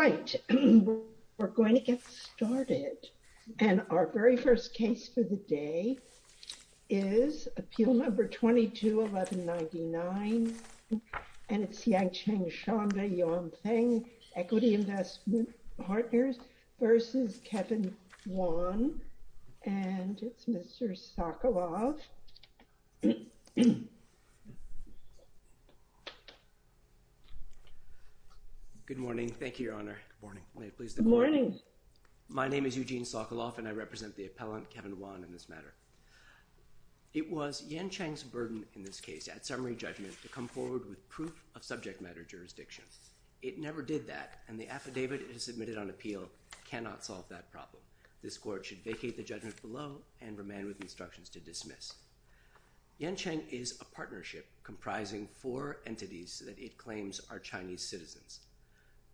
Right, we're going to get started. And our very first case for the day is appeal number 22-1199. And it's Yancheng Shanda Yuanfeng, Equity Investment Partners v. Kevin Wan. And it's Mr. Sokolov. Good morning. Thank you, Your Honor. Good morning. My name is Eugene Sokolov, and I represent the appellant, Kevin Wan, in this matter. It was Yancheng's burden in this case, at summary judgment, to come forward with proof of subject matter jurisdiction. It never did that, and the affidavit submitted on appeal cannot solve that problem. This court should vacate the judgment below and remain with instructions to dismiss. Yancheng is a partnership comprising four entities that it claims are Chinese citizens.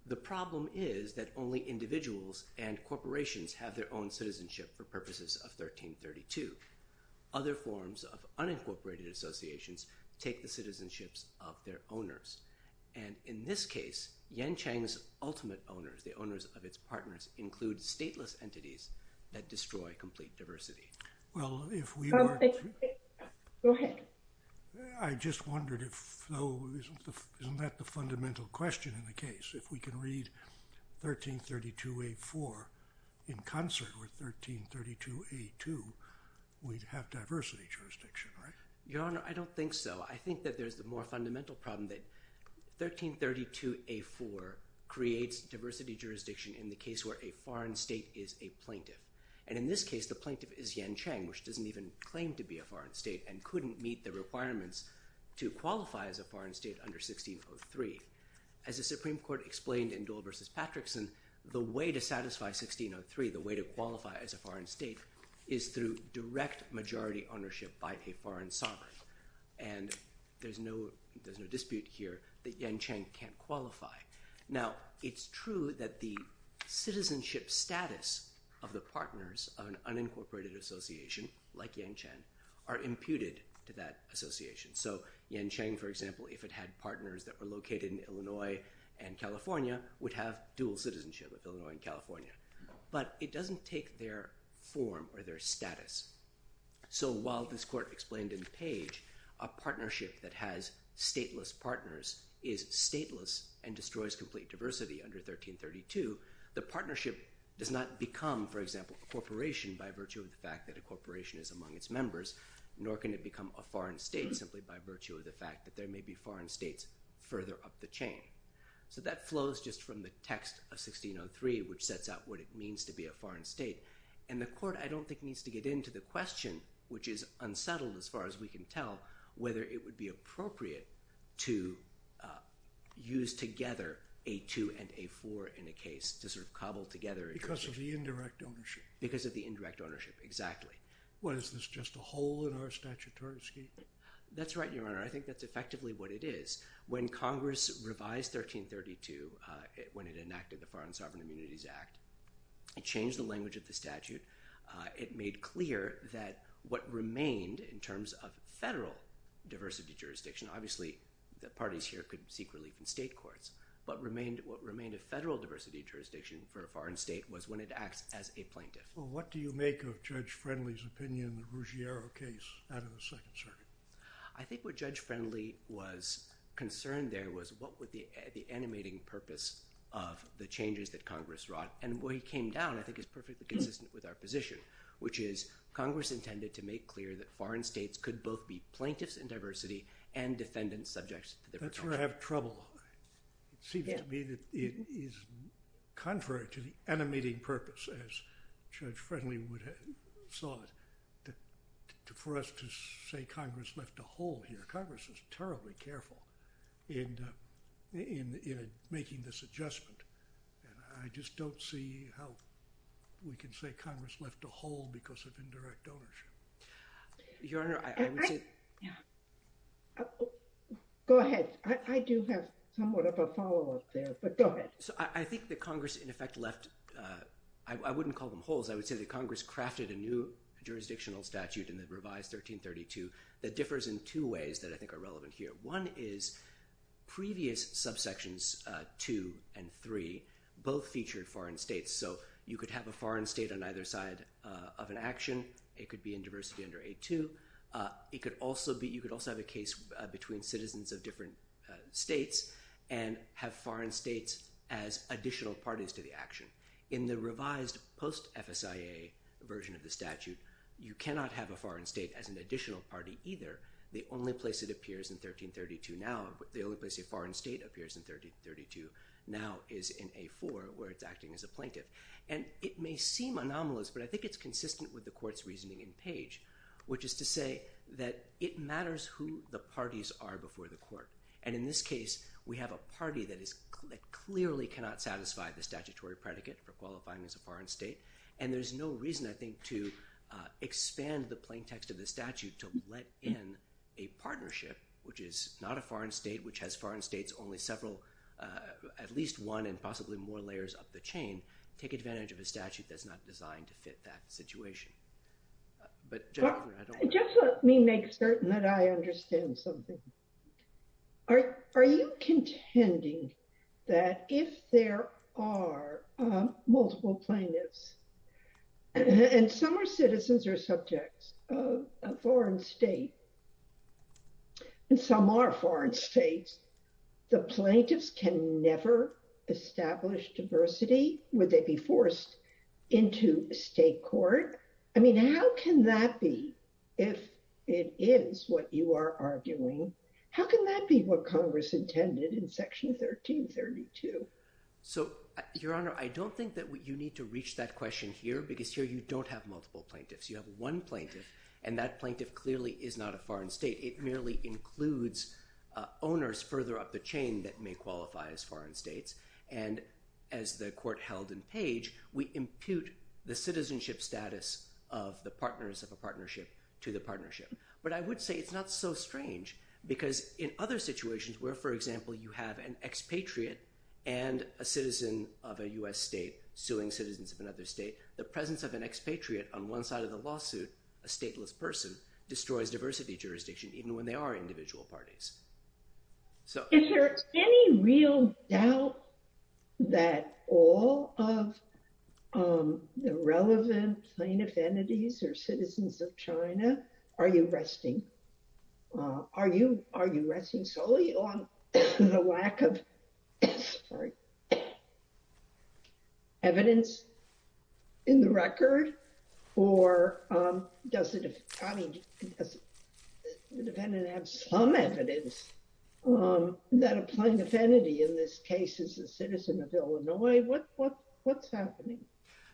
The problem is that only individuals and corporations have their own citizenship for purposes of 1332. Other forms of unincorporated associations take the citizenships of their owners. And in this case, Yancheng's ultimate owners, the owners of its partners, include stateless entities that destroy complete diversity. Go ahead. I just wondered if, though, isn't that the fundamental question in the case? If we can read 1332A-4 in concert with 1332A-2, we'd have diversity jurisdiction, right? Your Honor, I don't think so. I think that there's the more fundamental problem that 1332A-4 creates diversity jurisdiction in the case where a foreign state is a plaintiff. And in this case, the plaintiff is Yancheng, which doesn't even claim to be a foreign state and couldn't meet the requirements to qualify as a foreign state under 1603. As the Supreme Court explained in Dole v. Patrickson, the way to satisfy 1603, the way to qualify as a foreign state, is through direct majority ownership by a foreign sovereign. And there's no dispute here that Yancheng can't qualify. Now, it's true that the citizenship status of the partners of an unincorporated association, like Yancheng, are imputed to that association. So Yancheng, for example, if it had partners that were located in Illinois and California, would have dual citizenship of Illinois and California. But it doesn't take their form or their status. So while this Court explained in Page, a partnership that has stateless partners is stateless and destroys complete diversity under 1332, the partnership does not become, for example, a corporation by virtue of the fact that a corporation is among its members, nor can it become a foreign state simply by virtue of the fact that there may be foreign states further up the chain. So that flows just from the text of 1603, which sets out what it means to be a foreign state. And the Court, I don't think, needs to get into the question, which is unsettled as far as we can tell, whether it would be appropriate to use together A2 and A4 in a case to sort of cobble together. Because of the indirect ownership. Because of the indirect ownership, exactly. What, is this just a hole in our statutory scheme? That's right, Your Honor. I think that's effectively what it is. When Congress revised 1332, when it enacted the Foreign Sovereign Immunities Act, it changed the language of the statute. It made clear that what remained in terms of federal diversity jurisdiction, obviously the parties here could seek relief in state courts, but what remained a federal diversity jurisdiction for a foreign state was when it acts as a plaintiff. Well, what do you make of Judge Friendly's opinion of the Ruggiero case out of the Second Circuit? I think what Judge Friendly was concerned there was what would be the animating purpose of the changes that Congress wrought. And where he came down, I think, is perfectly consistent with our position, which is Congress intended to make clear that foreign states could both be plaintiffs in diversity and defendants subject to different charges. That's where I have trouble. It seems to me that it is contrary to the animating purpose, as Judge Friendly saw it, for us to say Congress left a hole here. Congress was terribly careful in making this adjustment, and I just don't see how we can say Congress left a hole because of indirect ownership. Go ahead. I do have somewhat of a follow-up there, but go ahead. I think that Congress, in effect, left—I wouldn't call them holes. I would say that Congress crafted a new jurisdictional statute in the revised 1332 that differs in two ways that I think are relevant here. One is previous subsections 2 and 3 both featured foreign states, so you could have a foreign state on either side of an action. It could be in diversity under A2. You could also have a case between citizens of different states and have foreign states as additional parties to the action. In the revised post-FSIA version of the statute, you cannot have a foreign state as an additional party either. The only place it appears in 1332 now—the only place a foreign state appears in 1332 now is in A4 where it's acting as a plaintiff. It may seem anomalous, but I think it's consistent with the Court's reasoning in Page, which is to say that it matters who the parties are before the Court. And in this case, we have a party that clearly cannot satisfy the statutory predicate for qualifying as a foreign state, and there's no reason, I think, to expand the plaintext of the statute to let in a partnership, which is not a foreign state, which has foreign states only several—at least one and possibly more layers up the chain, take advantage of a statute that's not designed to fit that situation. Just let me make certain that I understand something. Are you contending that if there are multiple plaintiffs, and some are citizens or subjects of a foreign state, and some are foreign states, the plaintiffs can never establish diversity? Would they be forced into state court? I mean, how can that be, if it is what you are arguing? How can that be what Congress intended in Section 1332? So, Your Honor, I don't think that you need to reach that question here, because here you don't have multiple plaintiffs. You have one plaintiff, and that plaintiff clearly is not a foreign state. It merely includes owners further up the chain that may qualify as foreign states, and as the Court held in Page, we impute the citizenship status of the partners of a partnership to the partnership. But I would say it's not so strange, because in other situations where, for example, you have an expatriate and a citizen of a U.S. state suing citizens of another state, the presence of an expatriate on one side of the lawsuit, a stateless person, destroys diversity jurisdiction, even when they are individual parties. Is there any real doubt that all of the relevant plaintiff entities are citizens of China? Are you resting solely on the lack of evidence in the record? Or does the defendant have some evidence that a plaintiff entity in this case is a citizen of Illinois? What's happening?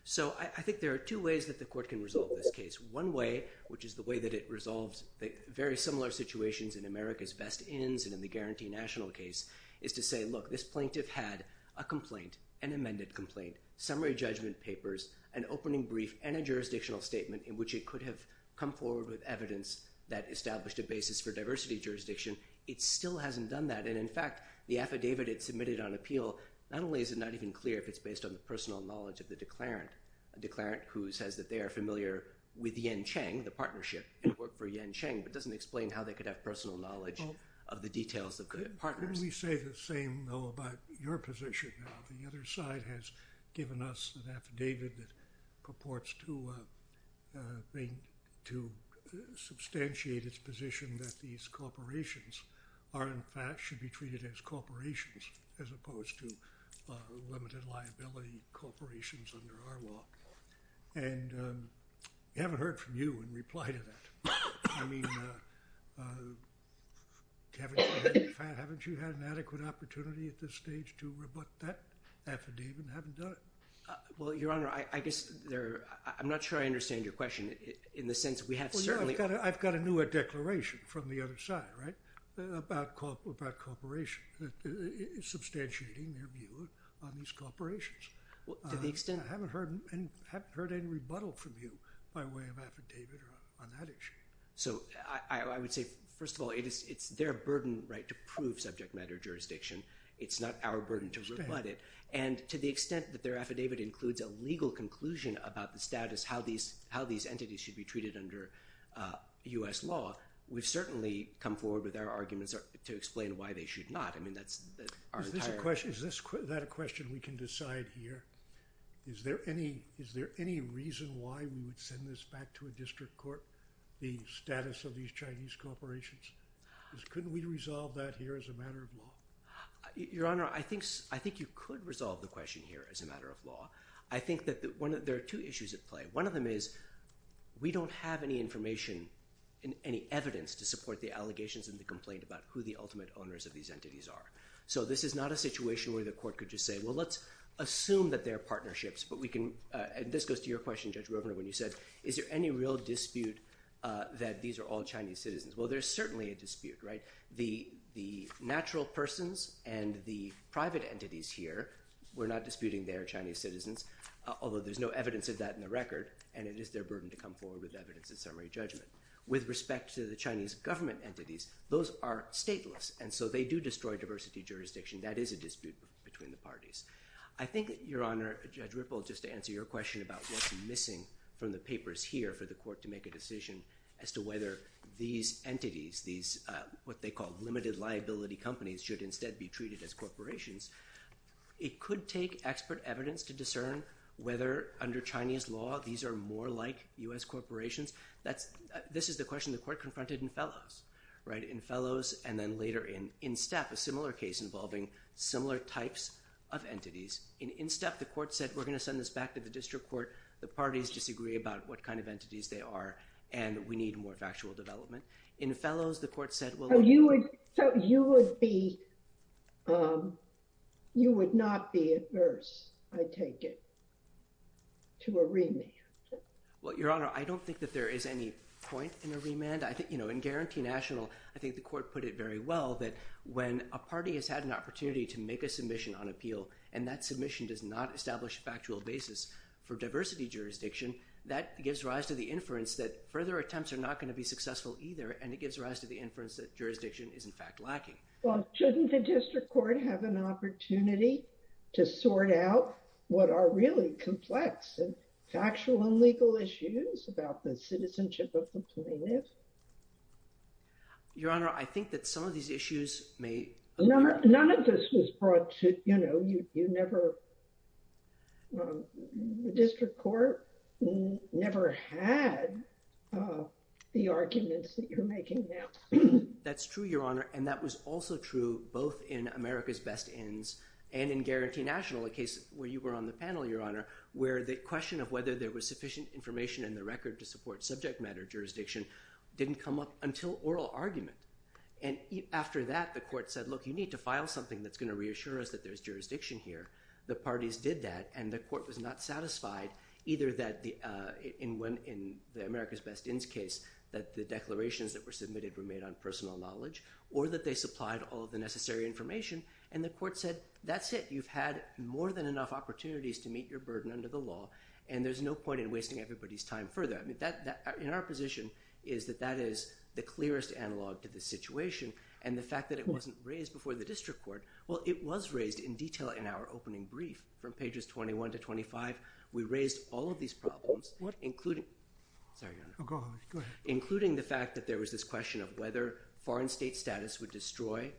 So, I think there are two ways that the Court can resolve this case. One way, which is the way that it resolves very similar situations in America's best inns and in the guarantee national case, is to say, look, this plaintiff had a complaint, an amended complaint, summary judgment papers, an opening brief, and a jurisdictional statement in which it could have come forward with evidence that established a basis for diversity jurisdiction. It still hasn't done that. And, in fact, the affidavit it submitted on appeal, not only is it not even clear if it's based on the personal knowledge of the declarant, a declarant who says that they are familiar with Yen Chang, the partnership, and worked for Yen Chang, but doesn't explain how they could have personal knowledge of the details of the partners. Why don't we say the same, though, about your position? The other side has given us an affidavit that purports to substantiate its position that these corporations are, in fact, should be treated as corporations as opposed to limited liability corporations under our law. And we haven't heard from you in reply to that. I mean, haven't you had an adequate opportunity at this stage to rebut that affidavit and haven't done it? Well, Your Honor, I guess there—I'm not sure I understand your question in the sense that we have certainly— Well, you know, I've got a newer declaration from the other side, right, about corporations, substantiating their view on these corporations. To the extent— I haven't heard any rebuttal from you by way of affidavit on that issue. So I would say, first of all, it's their burden, right, to prove subject matter jurisdiction. It's not our burden to rebut it. And to the extent that their affidavit includes a legal conclusion about the status, how these entities should be treated under U.S. law, we've certainly come forward with our arguments to explain why they should not. I mean, that's our entire— Is that a question we can decide here? Is there any reason why we would send this back to a district court, the status of these Chinese corporations? Couldn't we resolve that here as a matter of law? Your Honor, I think you could resolve the question here as a matter of law. I think that there are two issues at play. One of them is we don't have any information, any evidence to support the allegations and the complaint about who the ultimate owners of these entities are. So this is not a situation where the court could just say, well, let's assume that they are partnerships, but we can— And this goes to your question, Judge Rovner, when you said, is there any real dispute that these are all Chinese citizens? Well, there's certainly a dispute, right? The natural persons and the private entities here, we're not disputing they are Chinese citizens, although there's no evidence of that in the record, and it is their burden to come forward with evidence in summary judgment. With respect to the Chinese government entities, those are stateless, and so they do destroy diversity jurisdiction. That is a dispute between the parties. I think, Your Honor, Judge Ripple, just to answer your question about what's missing from the papers here for the court to make a decision as to whether these entities, these what they call limited liability companies, should instead be treated as corporations. It could take expert evidence to discern whether under Chinese law these are more like U.S. corporations. This is the question the court confronted in Fellows, right, in Fellows and then later in In Step, a similar case involving similar types of entities. In In Step, the court said, we're going to send this back to the district court. The parties disagree about what kind of entities they are, and we need more factual development. In Fellows, the court said, well— So you would be—you would not be adverse, I take it, to a remand? Well, Your Honor, I don't think that there is any point in a remand. I think, you know, in Guarantee National, I think the court put it very well that when a party has had an opportunity to make a submission on appeal and that submission does not establish a factual basis for diversity jurisdiction, that gives rise to the inference that further attempts are not going to be successful either, and it gives rise to the inference that jurisdiction is, in fact, lacking. Well, shouldn't the district court have an opportunity to sort out what are really complex and factual and legal issues about the citizenship of the plaintiff? Your Honor, I think that some of these issues may— None of this was brought to—you know, you never—the district court never had the arguments that you're making now. That's true, Your Honor, and that was also true both in America's Best Ends and in Guarantee National, a case where you were on the panel, Your Honor, where the question of whether there was sufficient information in the record to support subject matter jurisdiction didn't come up until oral argument. And after that, the court said, look, you need to file something that's going to reassure us that there's jurisdiction here. The parties did that, and the court was not satisfied either that in the America's Best Ends case that the declarations that were submitted were made on personal knowledge or that they supplied all of the necessary information, and the court said, that's it. You've had more than enough opportunities to meet your burden under the law, and there's no point in wasting everybody's time further. I mean, in our position is that that is the clearest analog to the situation, and the fact that it wasn't raised before the district court—well, it was raised in detail in our opening brief from pages 21 to 25. We raised all of these problems, including—sorry, Your Honor. Go ahead. Including the fact that there was this question of whether foreign state status would destroy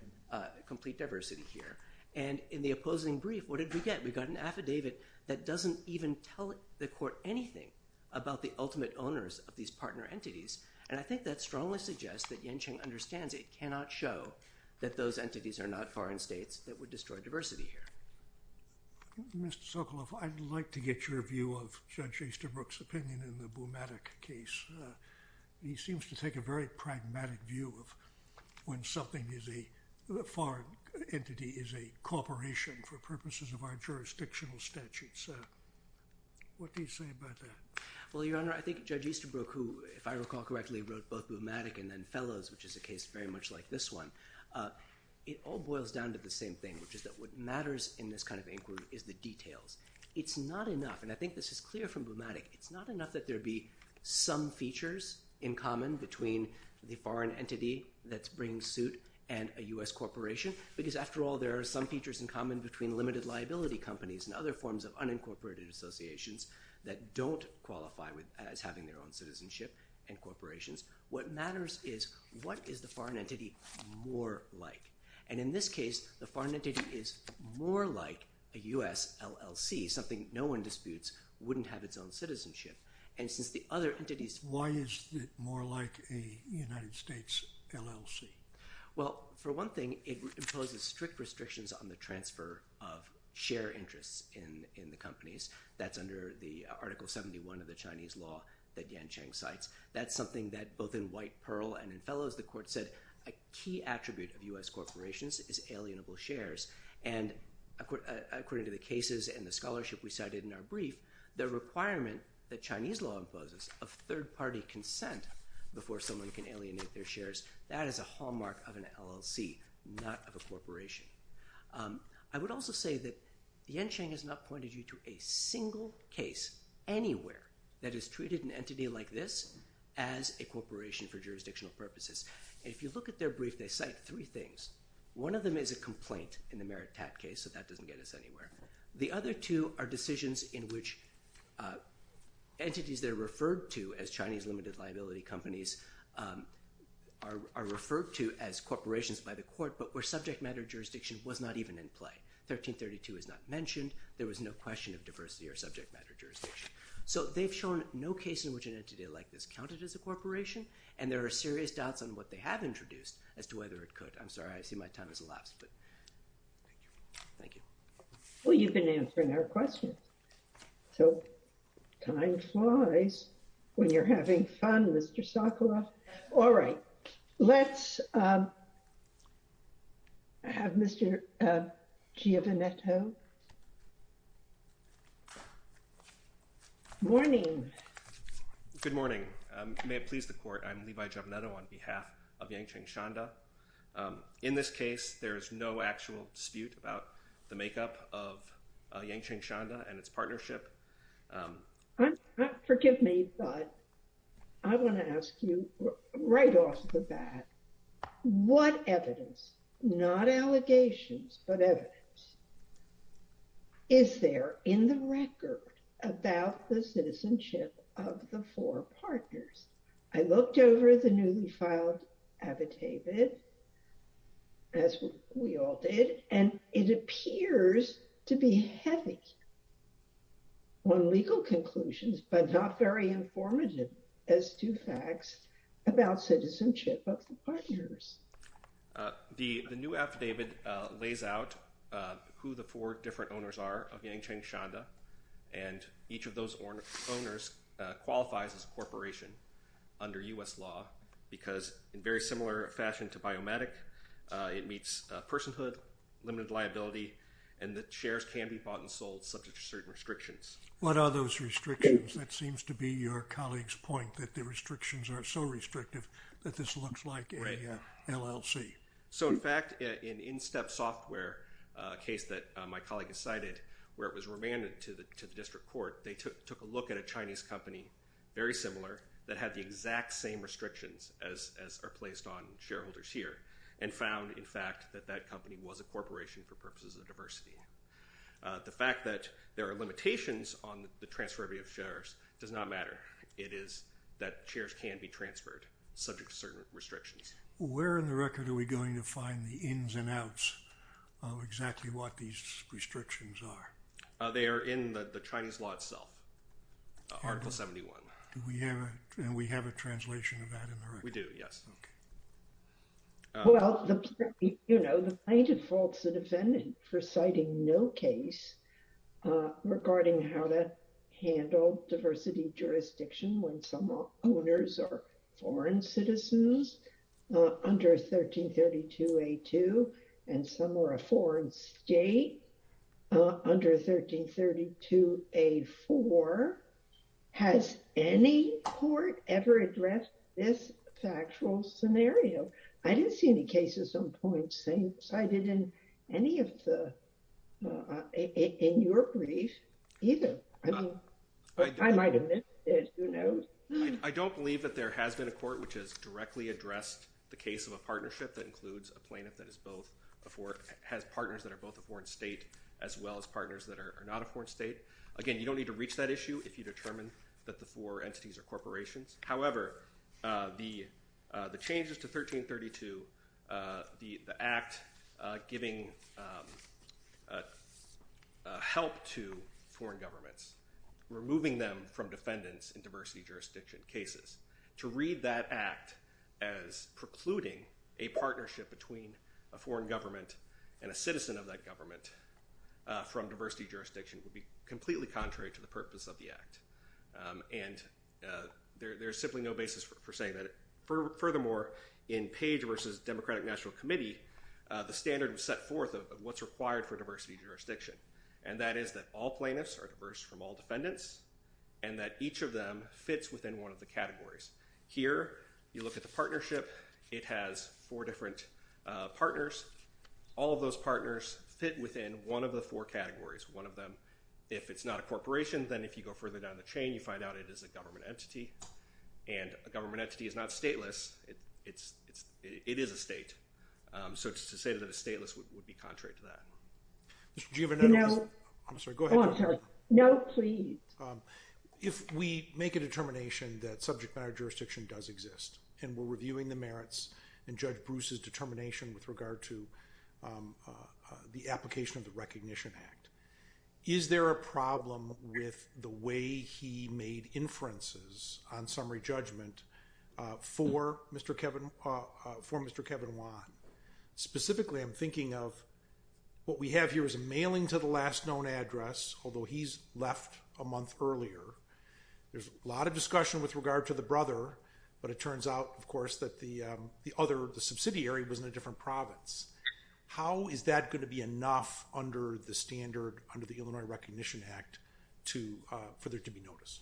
complete diversity here. And in the opposing brief, what did we get? We got an affidavit that doesn't even tell the court anything about the ultimate owners of these partner entities, and I think that strongly suggests that Yen-Cheng understands it cannot show that those entities are not foreign states that would destroy diversity here. Mr. Sokoloff, I'd like to get your view of Judge Easterbrook's opinion in the Bumatic case. He seems to take a very pragmatic view of when something is a—a foreign entity is a corporation for purposes of our jurisdictional statutes. What do you say about that? Well, Your Honor, I think Judge Easterbrook, who, if I recall correctly, wrote both Bumatic and then Fellows, which is a case very much like this one, it all boils down to the same thing, which is that what matters in this kind of inquiry is the details. It's not enough—and I think this is clear from Bumatic—it's not enough that there be some features in common between the foreign entity that's bringing suit and a U.S. corporation, because after all, there are some features in common between limited liability companies and other forms of unincorporated associations that don't qualify as having their own citizenship and corporations. What matters is what is the foreign entity more like. And in this case, the foreign entity is more like a U.S. LLC, something no one disputes wouldn't have its own citizenship. And since the other entities— Why is it more like a United States LLC? Well, for one thing, it imposes strict restrictions on the transfer of share interests in the companies. That's under the Article 71 of the Chinese law that Yan Cheng cites. That's something that both in White, Pearl, and in Fellows, the court said a key attribute of U.S. corporations is alienable shares. And according to the cases and the scholarship we cited in our brief, the requirement that Chinese law imposes of third-party consent before someone can alienate their shares, that is a hallmark of an LLC, not of a corporation. I would also say that Yan Cheng has not pointed you to a single case anywhere that has treated an entity like this as a corporation for jurisdictional purposes. If you look at their brief, they cite three things. One of them is a complaint in the Merit Tat case, so that doesn't get us anywhere. The other two are decisions in which entities that are referred to as Chinese limited liability companies are referred to as corporations by the court, but where subject matter jurisdiction was not even in play. 1332 is not mentioned. There was no question of diversity or subject matter jurisdiction. So they've shown no case in which an entity like this counted as a corporation, and there are serious doubts on what they have introduced as to whether it could. I'm sorry, I see my time has elapsed, but thank you. Well, you've been answering our questions. So time flies when you're having fun, Mr. Sokoloff. All right. Let's have Mr. Giovanetto. Morning. Good morning. May it please the court. I'm Levi Giovanetto on behalf of Yangcheng Shanda. In this case, there is no actual dispute about the makeup of Yangcheng Shanda and its partnership. Forgive me, but I want to ask you right off the bat, what evidence, not allegations, but evidence, is there in the record about the citizenship of the four partners? I looked over the newly filed affidavit, as we all did, and it appears to be heavy on legal conclusions, but not very informative as to facts about citizenship of the partners. The new affidavit lays out who the four different owners are of Yangcheng Shanda, and each of those owners qualifies as a corporation under U.S. law, because in very similar fashion to biomatic, it meets personhood, limited liability, and the shares can be bought and sold subject to certain restrictions. What are those restrictions? That seems to be your colleague's point, that the restrictions are so restrictive that this looks like an LLC. Right. So, in fact, an in-step software case that my colleague has cited, where it was remanded to the district court, they took a look at a Chinese company, very similar, that had the exact same restrictions as are placed on shareholders here, and found, in fact, that that company was a corporation for purposes of diversity. The fact that there are limitations on the transferability of shares does not matter. It is that shares can be transferred subject to certain restrictions. Where in the record are we going to find the ins and outs of exactly what these restrictions are? They are in the Chinese law itself, Article 71. And we have a translation of that in the record? We do, yes. Okay. Well, you know, the plaintiff faults the defendant for citing no case regarding how that handled diversity jurisdiction when some owners are foreign citizens under 1332A2 and some are a foreign state under 1332A4. Has any court ever addressed this factual scenario? I didn't see any cases on points cited in any of the, in your brief, either. I mean, I might have missed it, who knows? I don't believe that there has been a court which has directly addressed the case of a partnership that includes a plaintiff that has partners that are both a foreign state as well as partners that are not a foreign state. Again, you don't need to reach that issue if you determine that the four entities are corporations. However, the changes to 1332, the act giving help to foreign governments, removing them from defendants in diversity jurisdiction cases, to read that act as precluding a partnership between a foreign government and a citizen of that government from diversity jurisdiction would be completely contrary to the purpose of the act. And there's simply no basis for saying that. Furthermore, in Page versus Democratic National Committee, the standard was set forth of what's required for diversity jurisdiction. And that is that all plaintiffs are diverse from all defendants and that each of them fits within one of the categories. Here, you look at the partnership. It has four different partners. All of those partners fit within one of the four categories. One of them, if it's not a corporation, then if you go further down the chain, you find out it is a government entity. And a government entity is not stateless. It is a state. So to say that it's stateless would be contrary to that. No. I'm sorry. Go ahead. No, please. If we make a determination that subject matter jurisdiction does exist, and we're reviewing the merits and Judge Bruce's determination with regard to the application of the Recognition Act, is there a problem with the way he made inferences on summary judgment for Mr. Kevin, for Mr. Kevin Wan? Specifically, I'm thinking of what we have here is a mailing to the last known address, although he's left a month earlier. There's a lot of discussion with regard to the brother, but it turns out, of course, that the other, the subsidiary was in a different province. How is that going to be enough under the standard, under the Illinois Recognition Act, for there to be notice?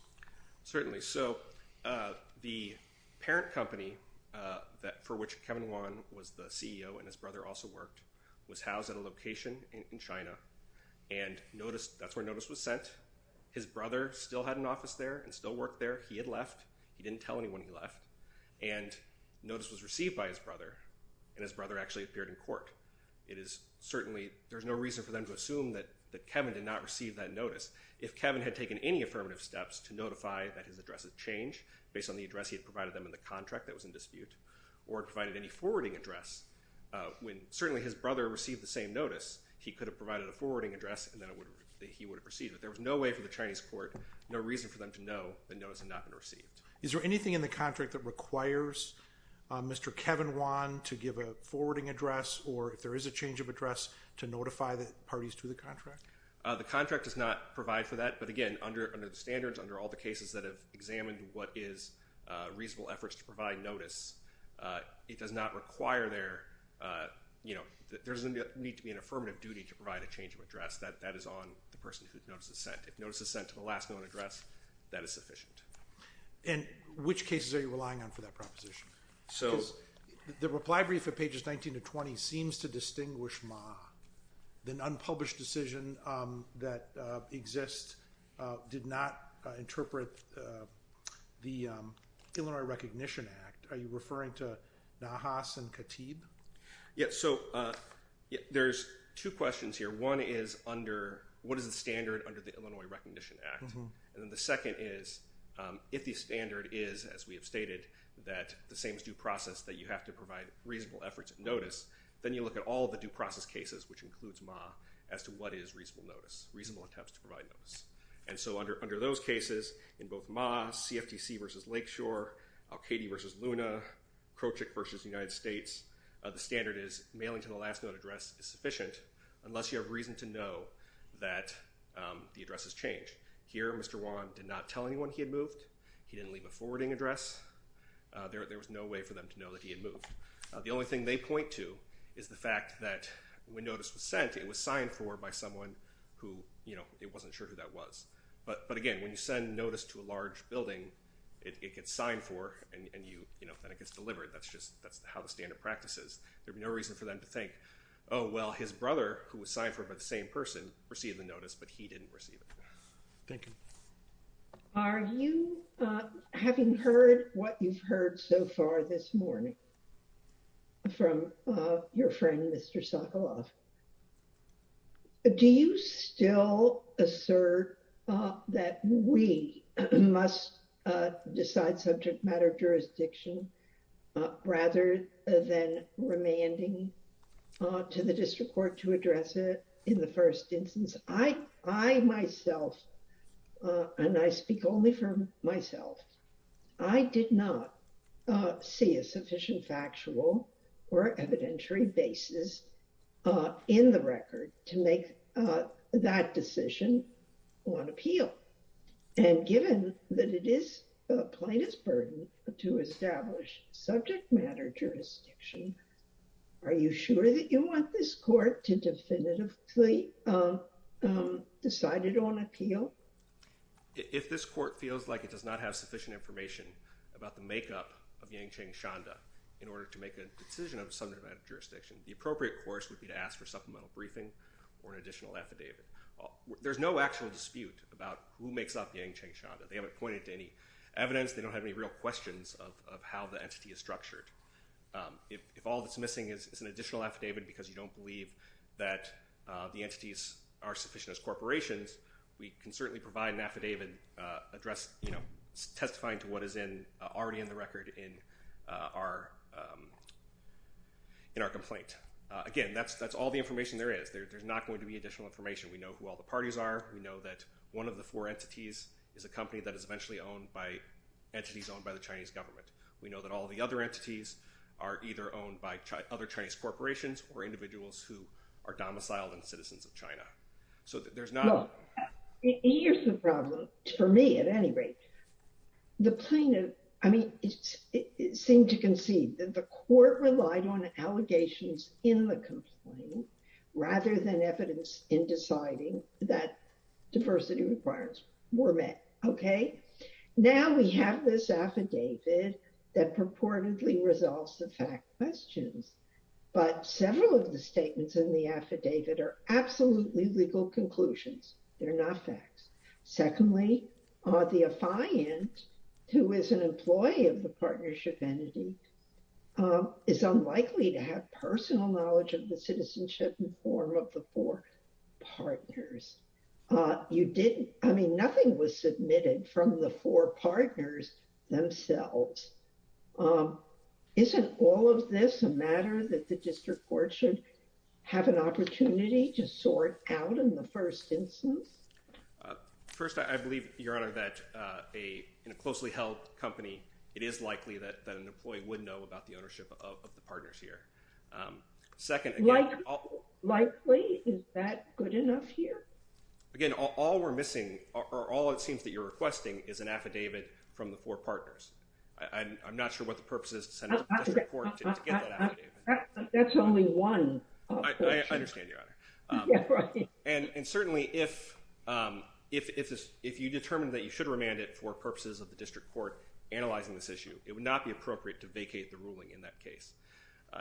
Certainly. So the parent company for which Kevin Wan was the CEO and his brother also worked was housed at a location in China. And notice, that's where notice was sent. His brother still had an office there and still worked there. He had left. He didn't tell anyone he left. And notice was received by his brother. And his brother actually appeared in court. It is certainly, there's no reason for them to assume that Kevin did not receive that notice. If Kevin had taken any affirmative steps to notify that his address had changed, based on the address he had provided them in the contract that was in dispute, or provided any forwarding address, when certainly his brother received the same notice, he could have provided a forwarding address and then he would have received it. But there was no way for the Chinese court, no reason for them to know the notice had not been received. Is there anything in the contract that requires Mr. Kevin Wan to give a forwarding address, or if there is a change of address, to notify the parties to the contract? The contract does not provide for that. But, again, under the standards, under all the cases that have examined what is reasonable efforts to provide notice, it does not require their, you know, there doesn't need to be an affirmative duty to provide a change of address. That is on the person whose notice is sent. If notice is sent to the last known address, that is sufficient. And which cases are you relying on for that proposition? The reply brief at pages 19 to 20 seems to distinguish Ma. The unpublished decision that exists did not interpret the Illinois Recognition Act. Are you referring to Nahas and Katib? Yeah, so there's two questions here. One is under, what is the standard under the Illinois Recognition Act? And then the second is, if the standard is, as we have stated, that the same is due process, that you have to provide reasonable efforts at notice, then you look at all the due process cases, which includes Ma, as to what is reasonable notice, reasonable attempts to provide notice. And so under those cases, in both Ma, CFTC versus Lakeshore, Al-Kaidi versus Luna, Krochik versus the United States, the standard is mailing to the last known address is sufficient, unless you have reason to know that the address has changed. Here, Mr. Wong did not tell anyone he had moved. He didn't leave a forwarding address. There was no way for them to know that he had moved. The only thing they point to is the fact that when notice was sent, it was signed for by someone who, you know, wasn't sure who that was. But again, when you send notice to a large building, it gets signed for and then it gets delivered. That's just how the standard practice is. There'd be no reason for them to think, oh, well, his brother, who was signed for by the same person, received the notice, but he didn't receive it. Thank you. Are you, having heard what you've heard so far this morning from your friend, Mr. Sokoloff, do you still assert that we must decide subject matter jurisdiction rather than remanding to the district court to address it in the first instance? I, myself, and I speak only for myself, I did not see a sufficient factual or evidentiary basis in the record to make that decision on appeal. And given that it is plaintiff's burden to establish subject matter jurisdiction, are you sure that you want this court to definitively decide it on appeal? If this court feels like it does not have sufficient information about the makeup of Yang Cheng Shanda in order to make a decision of subject matter jurisdiction, the appropriate course would be to ask for supplemental briefing or an additional affidavit. There's no actual dispute about who makes up Yang Cheng Shanda. They haven't pointed to any evidence. They don't have any real questions of how the entity is structured. If all that's missing is an additional affidavit because you don't believe that the entities are sufficient as corporations, we can certainly provide an affidavit testifying to what is already in the record in our complaint. Again, that's all the information there is. There's not going to be additional information. We know who all the parties are. We know that one of the four entities is a company that is eventually owned by entities owned by the Chinese government. We know that all the other entities are either owned by other Chinese corporations or individuals who are domiciled and citizens of China. Here's the problem for me at any rate. The plaintiff seemed to concede that the court relied on allegations in the complaint rather than evidence in deciding that diversity requirements were met. Now we have this affidavit that purportedly resolves the fact questions. But several of the statements in the affidavit are absolutely legal conclusions. They're not facts. Secondly, the affiant, who is an employee of the partnership entity, is unlikely to have personal knowledge of the citizenship and form of the four partners. I mean, nothing was submitted from the four partners themselves. Isn't all of this a matter that the district court should have an opportunity to sort out in the first instance? First, I believe, Your Honor, that in a closely held company, it is likely that an employee would know about the ownership of the partners here. Likely? Is that good enough here? Again, all we're missing or all it seems that you're requesting is an affidavit from the four partners. I'm not sure what the purpose is to send a report to get that affidavit. That's only one. I understand, Your Honor. And certainly, if you determine that you should remand it for purposes of the district court analyzing this issue, it would not be appropriate to vacate the ruling in that case.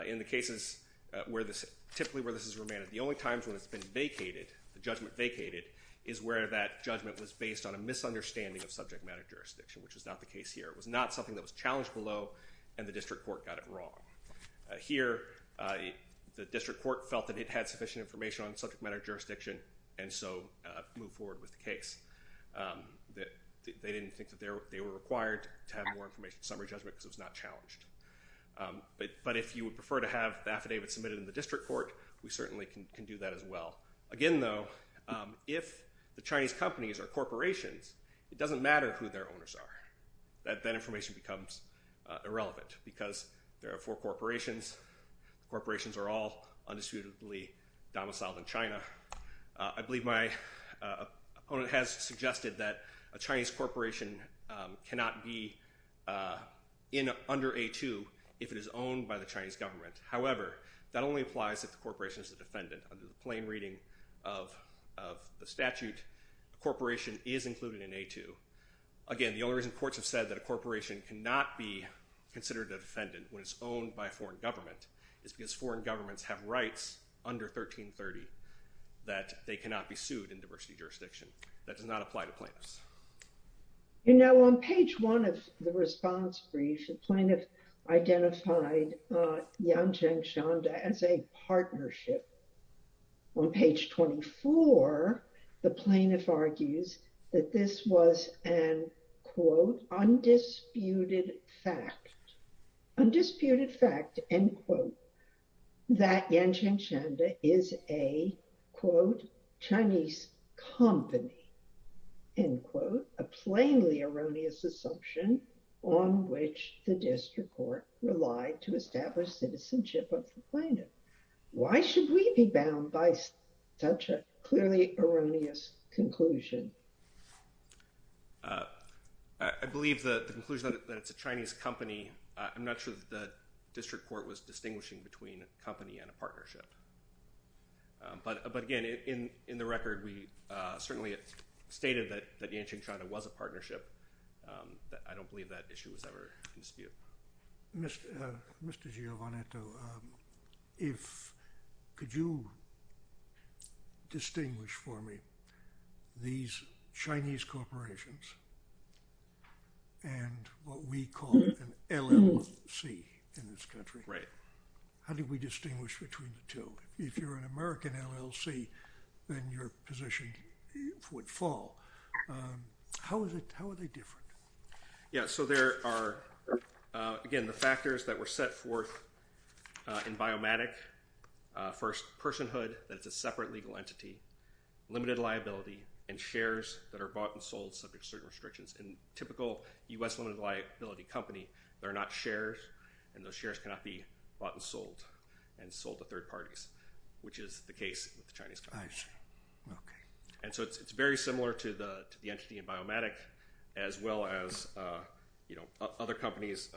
In the cases where this typically where this is remanded, the only times when it's been vacated, the judgment vacated, is where that judgment was based on a misunderstanding of subject matter jurisdiction, which is not the case here. It was not something that was challenged below, and the district court got it wrong. Here, the district court felt that it had sufficient information on subject matter jurisdiction, and so moved forward with the case. They didn't think that they were required to have more information summary judgment because it was not challenged. But if you would prefer to have the affidavit submitted in the district court, we certainly can do that as well. Again, though, if the Chinese companies are corporations, it doesn't matter who their owners are. That information becomes irrelevant because there are four corporations. Corporations are all undisputedly domiciled in China. I believe my opponent has suggested that a Chinese corporation cannot be under A2 if it is owned by the Chinese government. However, that only applies if the corporation is a defendant. Under the plain reading of the statute, a corporation is included in A2. Again, the only reason courts have said that a corporation cannot be considered a defendant when it's owned by a foreign government is because foreign governments have rights under 1330 that they cannot be sued in diversity jurisdiction. That does not apply to plaintiffs. You know, on page one of the response brief, the plaintiff identified Yancheng Shanda as a partnership. On page 24, the plaintiff argues that this was an, quote, undisputed fact. Undisputed fact, end quote, that Yancheng Shanda is a, quote, Chinese company, end quote, a plainly erroneous assumption on which the district court relied to establish citizenship of the plaintiff. Why should we be bound by such a clearly erroneous conclusion? I believe the conclusion that it's a Chinese company, I'm not sure that the district court was distinguishing between a company and a partnership. But again, in the record, we certainly stated that Yancheng Shanda was a partnership. I don't believe that issue was ever in dispute. Mr. Giovannetto, could you distinguish for me these Chinese corporations and what we call an LLC in this country? Right. How do we distinguish between the two? If you're an American LLC, then your position would fall. How are they different? Yeah, so there are, again, the factors that were set forth in Biomatic. First, personhood, that it's a separate legal entity, limited liability, and shares that are bought and sold subject to certain restrictions. In a typical U.S. limited liability company, there are not shares, and those shares cannot be bought and sold and sold to third parties, which is the case with the Chinese companies. I see. Okay. And so it's very similar to the entity in Biomatic, as well as other companies.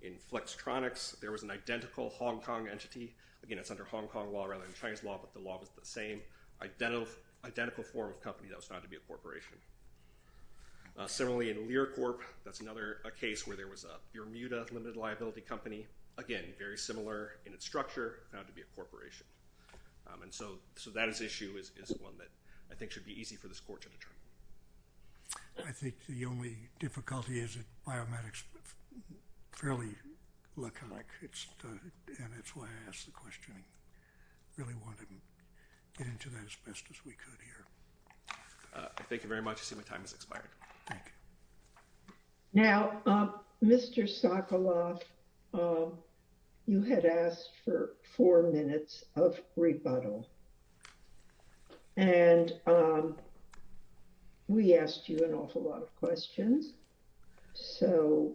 In Flextronics, there was an identical Hong Kong entity. Again, it's under Hong Kong law rather than Chinese law, but the law was the same, identical form of company that was found to be a corporation. Similarly, in LearCorp, that's another case where there was a Bermuda limited liability company. Again, very similar in its structure, found to be a corporation. And so that issue is one that I think should be easy for this Court to determine. I think the only difficulty is that Biomatic is fairly laconic, and that's why I asked the question. I really wanted to get into that as best as we could here. Thank you very much. I see my time has expired. Thank you. Now, Mr. Sokoloff, you had asked for four minutes of rebuttal, and we asked you an awful lot of questions. So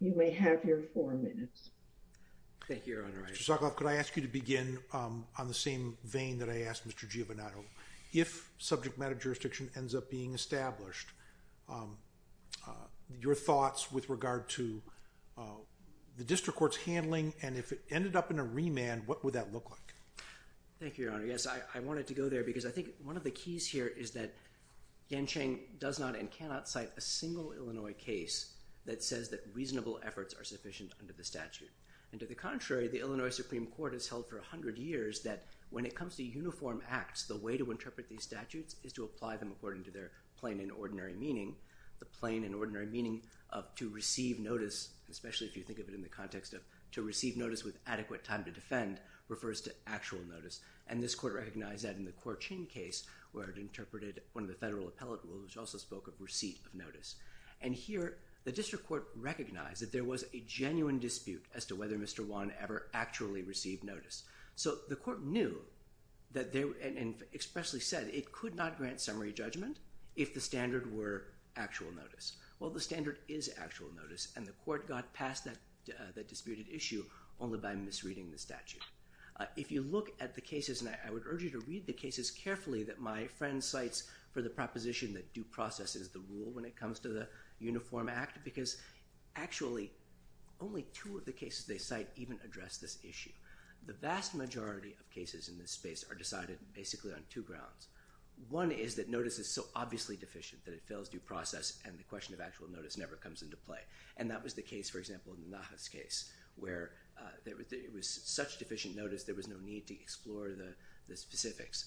you may have your four minutes. Thank you, Your Honor. Mr. Sokoloff, could I ask you to begin on the same vein that I asked Mr. Giovannotto? If subject matter jurisdiction ends up being established, your thoughts with regard to the district court's handling, and if it ended up in a remand, what would that look like? Thank you, Your Honor. Yes, I wanted to go there because I think one of the keys here is that Gensheng does not and cannot cite a single Illinois case that says that reasonable efforts are sufficient under the statute. And to the contrary, the Illinois Supreme Court has held for 100 years that when it comes to uniform acts, the way to interpret these statutes is to apply them according to their plain and ordinary meaning. The plain and ordinary meaning of to receive notice, especially if you think of it in the context of to receive notice with adequate time to defend, refers to actual notice. And this court recognized that in the Korchin case, where it interpreted one of the federal appellate rules, which also spoke of receipt of notice. And here, the district court recognized that there was a genuine dispute as to whether Mr. Wan ever actually received notice. So the court knew and expressly said it could not grant summary judgment if the standard were actual notice. Well, the standard is actual notice, and the court got past that disputed issue only by misreading the statute. If you look at the cases, and I would urge you to read the cases carefully that my friend cites for the proposition that due process is the rule when it comes to the Uniform Act, because actually only two of the cases they cite even address this issue. The vast majority of cases in this space are decided basically on two grounds. One is that notice is so obviously deficient that it fails due process, and the question of actual notice never comes into play. And that was the case, for example, in the Nahas case, where it was such deficient notice there was no need to explore the specifics.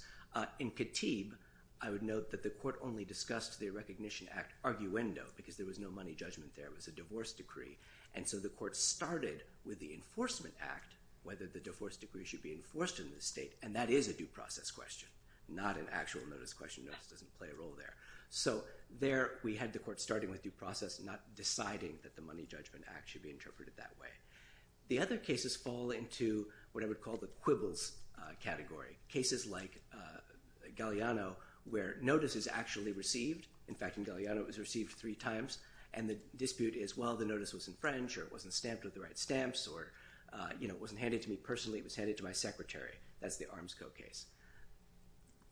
In Katib, I would note that the court only discussed the Recognition Act arguendo, because there was no money judgment there. It was a divorce decree. And so the court started with the Enforcement Act, whether the divorce decree should be enforced in the state, and that is a due process question, not an actual notice question. Notice doesn't play a role there. So there we had the court starting with due process, not deciding that the Money Judgment Act should be interpreted that way. The other cases fall into what I would call the quibbles category, cases like Galeano, where notice is actually received. In fact, in Galeano, it was received three times, and the dispute is, well, the notice was infringed, or it wasn't stamped with the right stamps, or it wasn't handed to me personally, it was handed to my secretary. That's the Armsco case.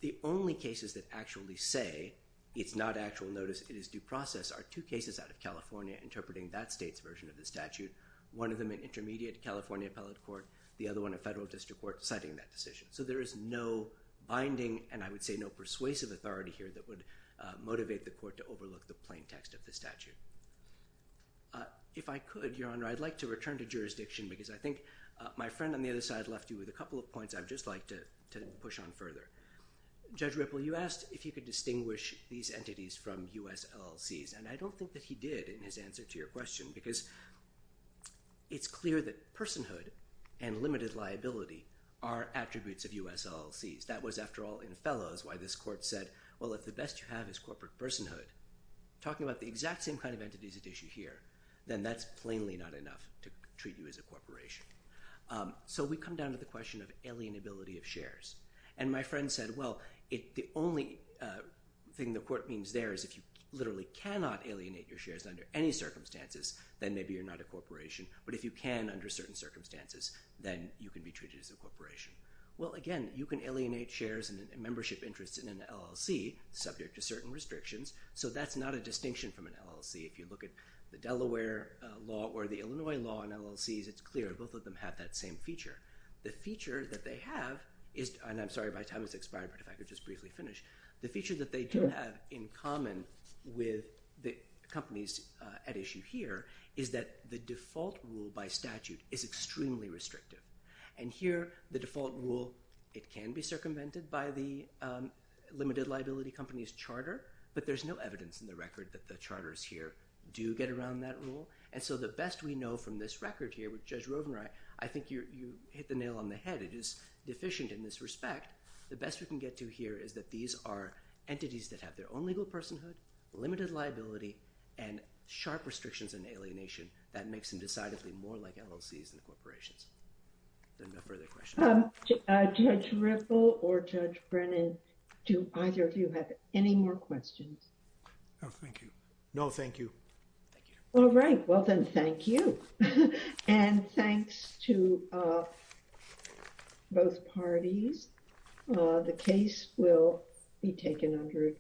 The only cases that actually say it's not actual notice, it is due process, are two cases out of California interpreting that state's version of the statute, one of them an intermediate California appellate court, the other one a federal district court citing that decision. So there is no binding, and I would say no persuasive authority here that would motivate the court to overlook the plain text of the statute. If I could, Your Honor, I'd like to return to jurisdiction because I think my friend on the other side left you with a couple of points I'd just like to push on further. Judge Ripple, you asked if you could distinguish these entities from U.S. LLCs, and I don't think that he did in his answer to your question because it's clear that personhood and limited liability are attributes of U.S. LLCs. That was, after all, in fellows, why this court said, well, if the best you have is corporate personhood, talking about the exact same kind of entities at issue here, then that's plainly not enough to treat you as a corporation. So we come down to the question of alienability of shares, and my friend said, well, the only thing the court means there is if you literally cannot alienate your shares under any circumstances, then maybe you're not a corporation, but if you can under certain circumstances, then you can be treated as a corporation. Well, again, you can alienate shares and membership interests in an LLC subject to certain restrictions, so that's not a distinction from an LLC. If you look at the Delaware law or the Illinois law in LLCs, it's clear both of them have that same feature. The feature that they have is – and I'm sorry, my time has expired, but if I could just briefly finish – the feature that they do have in common with the companies at issue here is that the default rule by statute is extremely restrictive. And here, the default rule, it can be circumvented by the limited liability companies charter, but there's no evidence in the record that the charters here do get around that rule. And so the best we know from this record here with Judge Rovner, I think you hit the nail on the head. It is deficient in this respect. The best we can get to here is that these are entities that have their own legal personhood, limited liability, and sharp restrictions and alienation that makes them decidedly more like LLCs than corporations. Are there no further questions? Judge Ripple or Judge Brennan, do either of you have any more questions? No, thank you. No, thank you. Thank you. All right, well then, thank you. And thanks to both parties. The case will be taken under advice.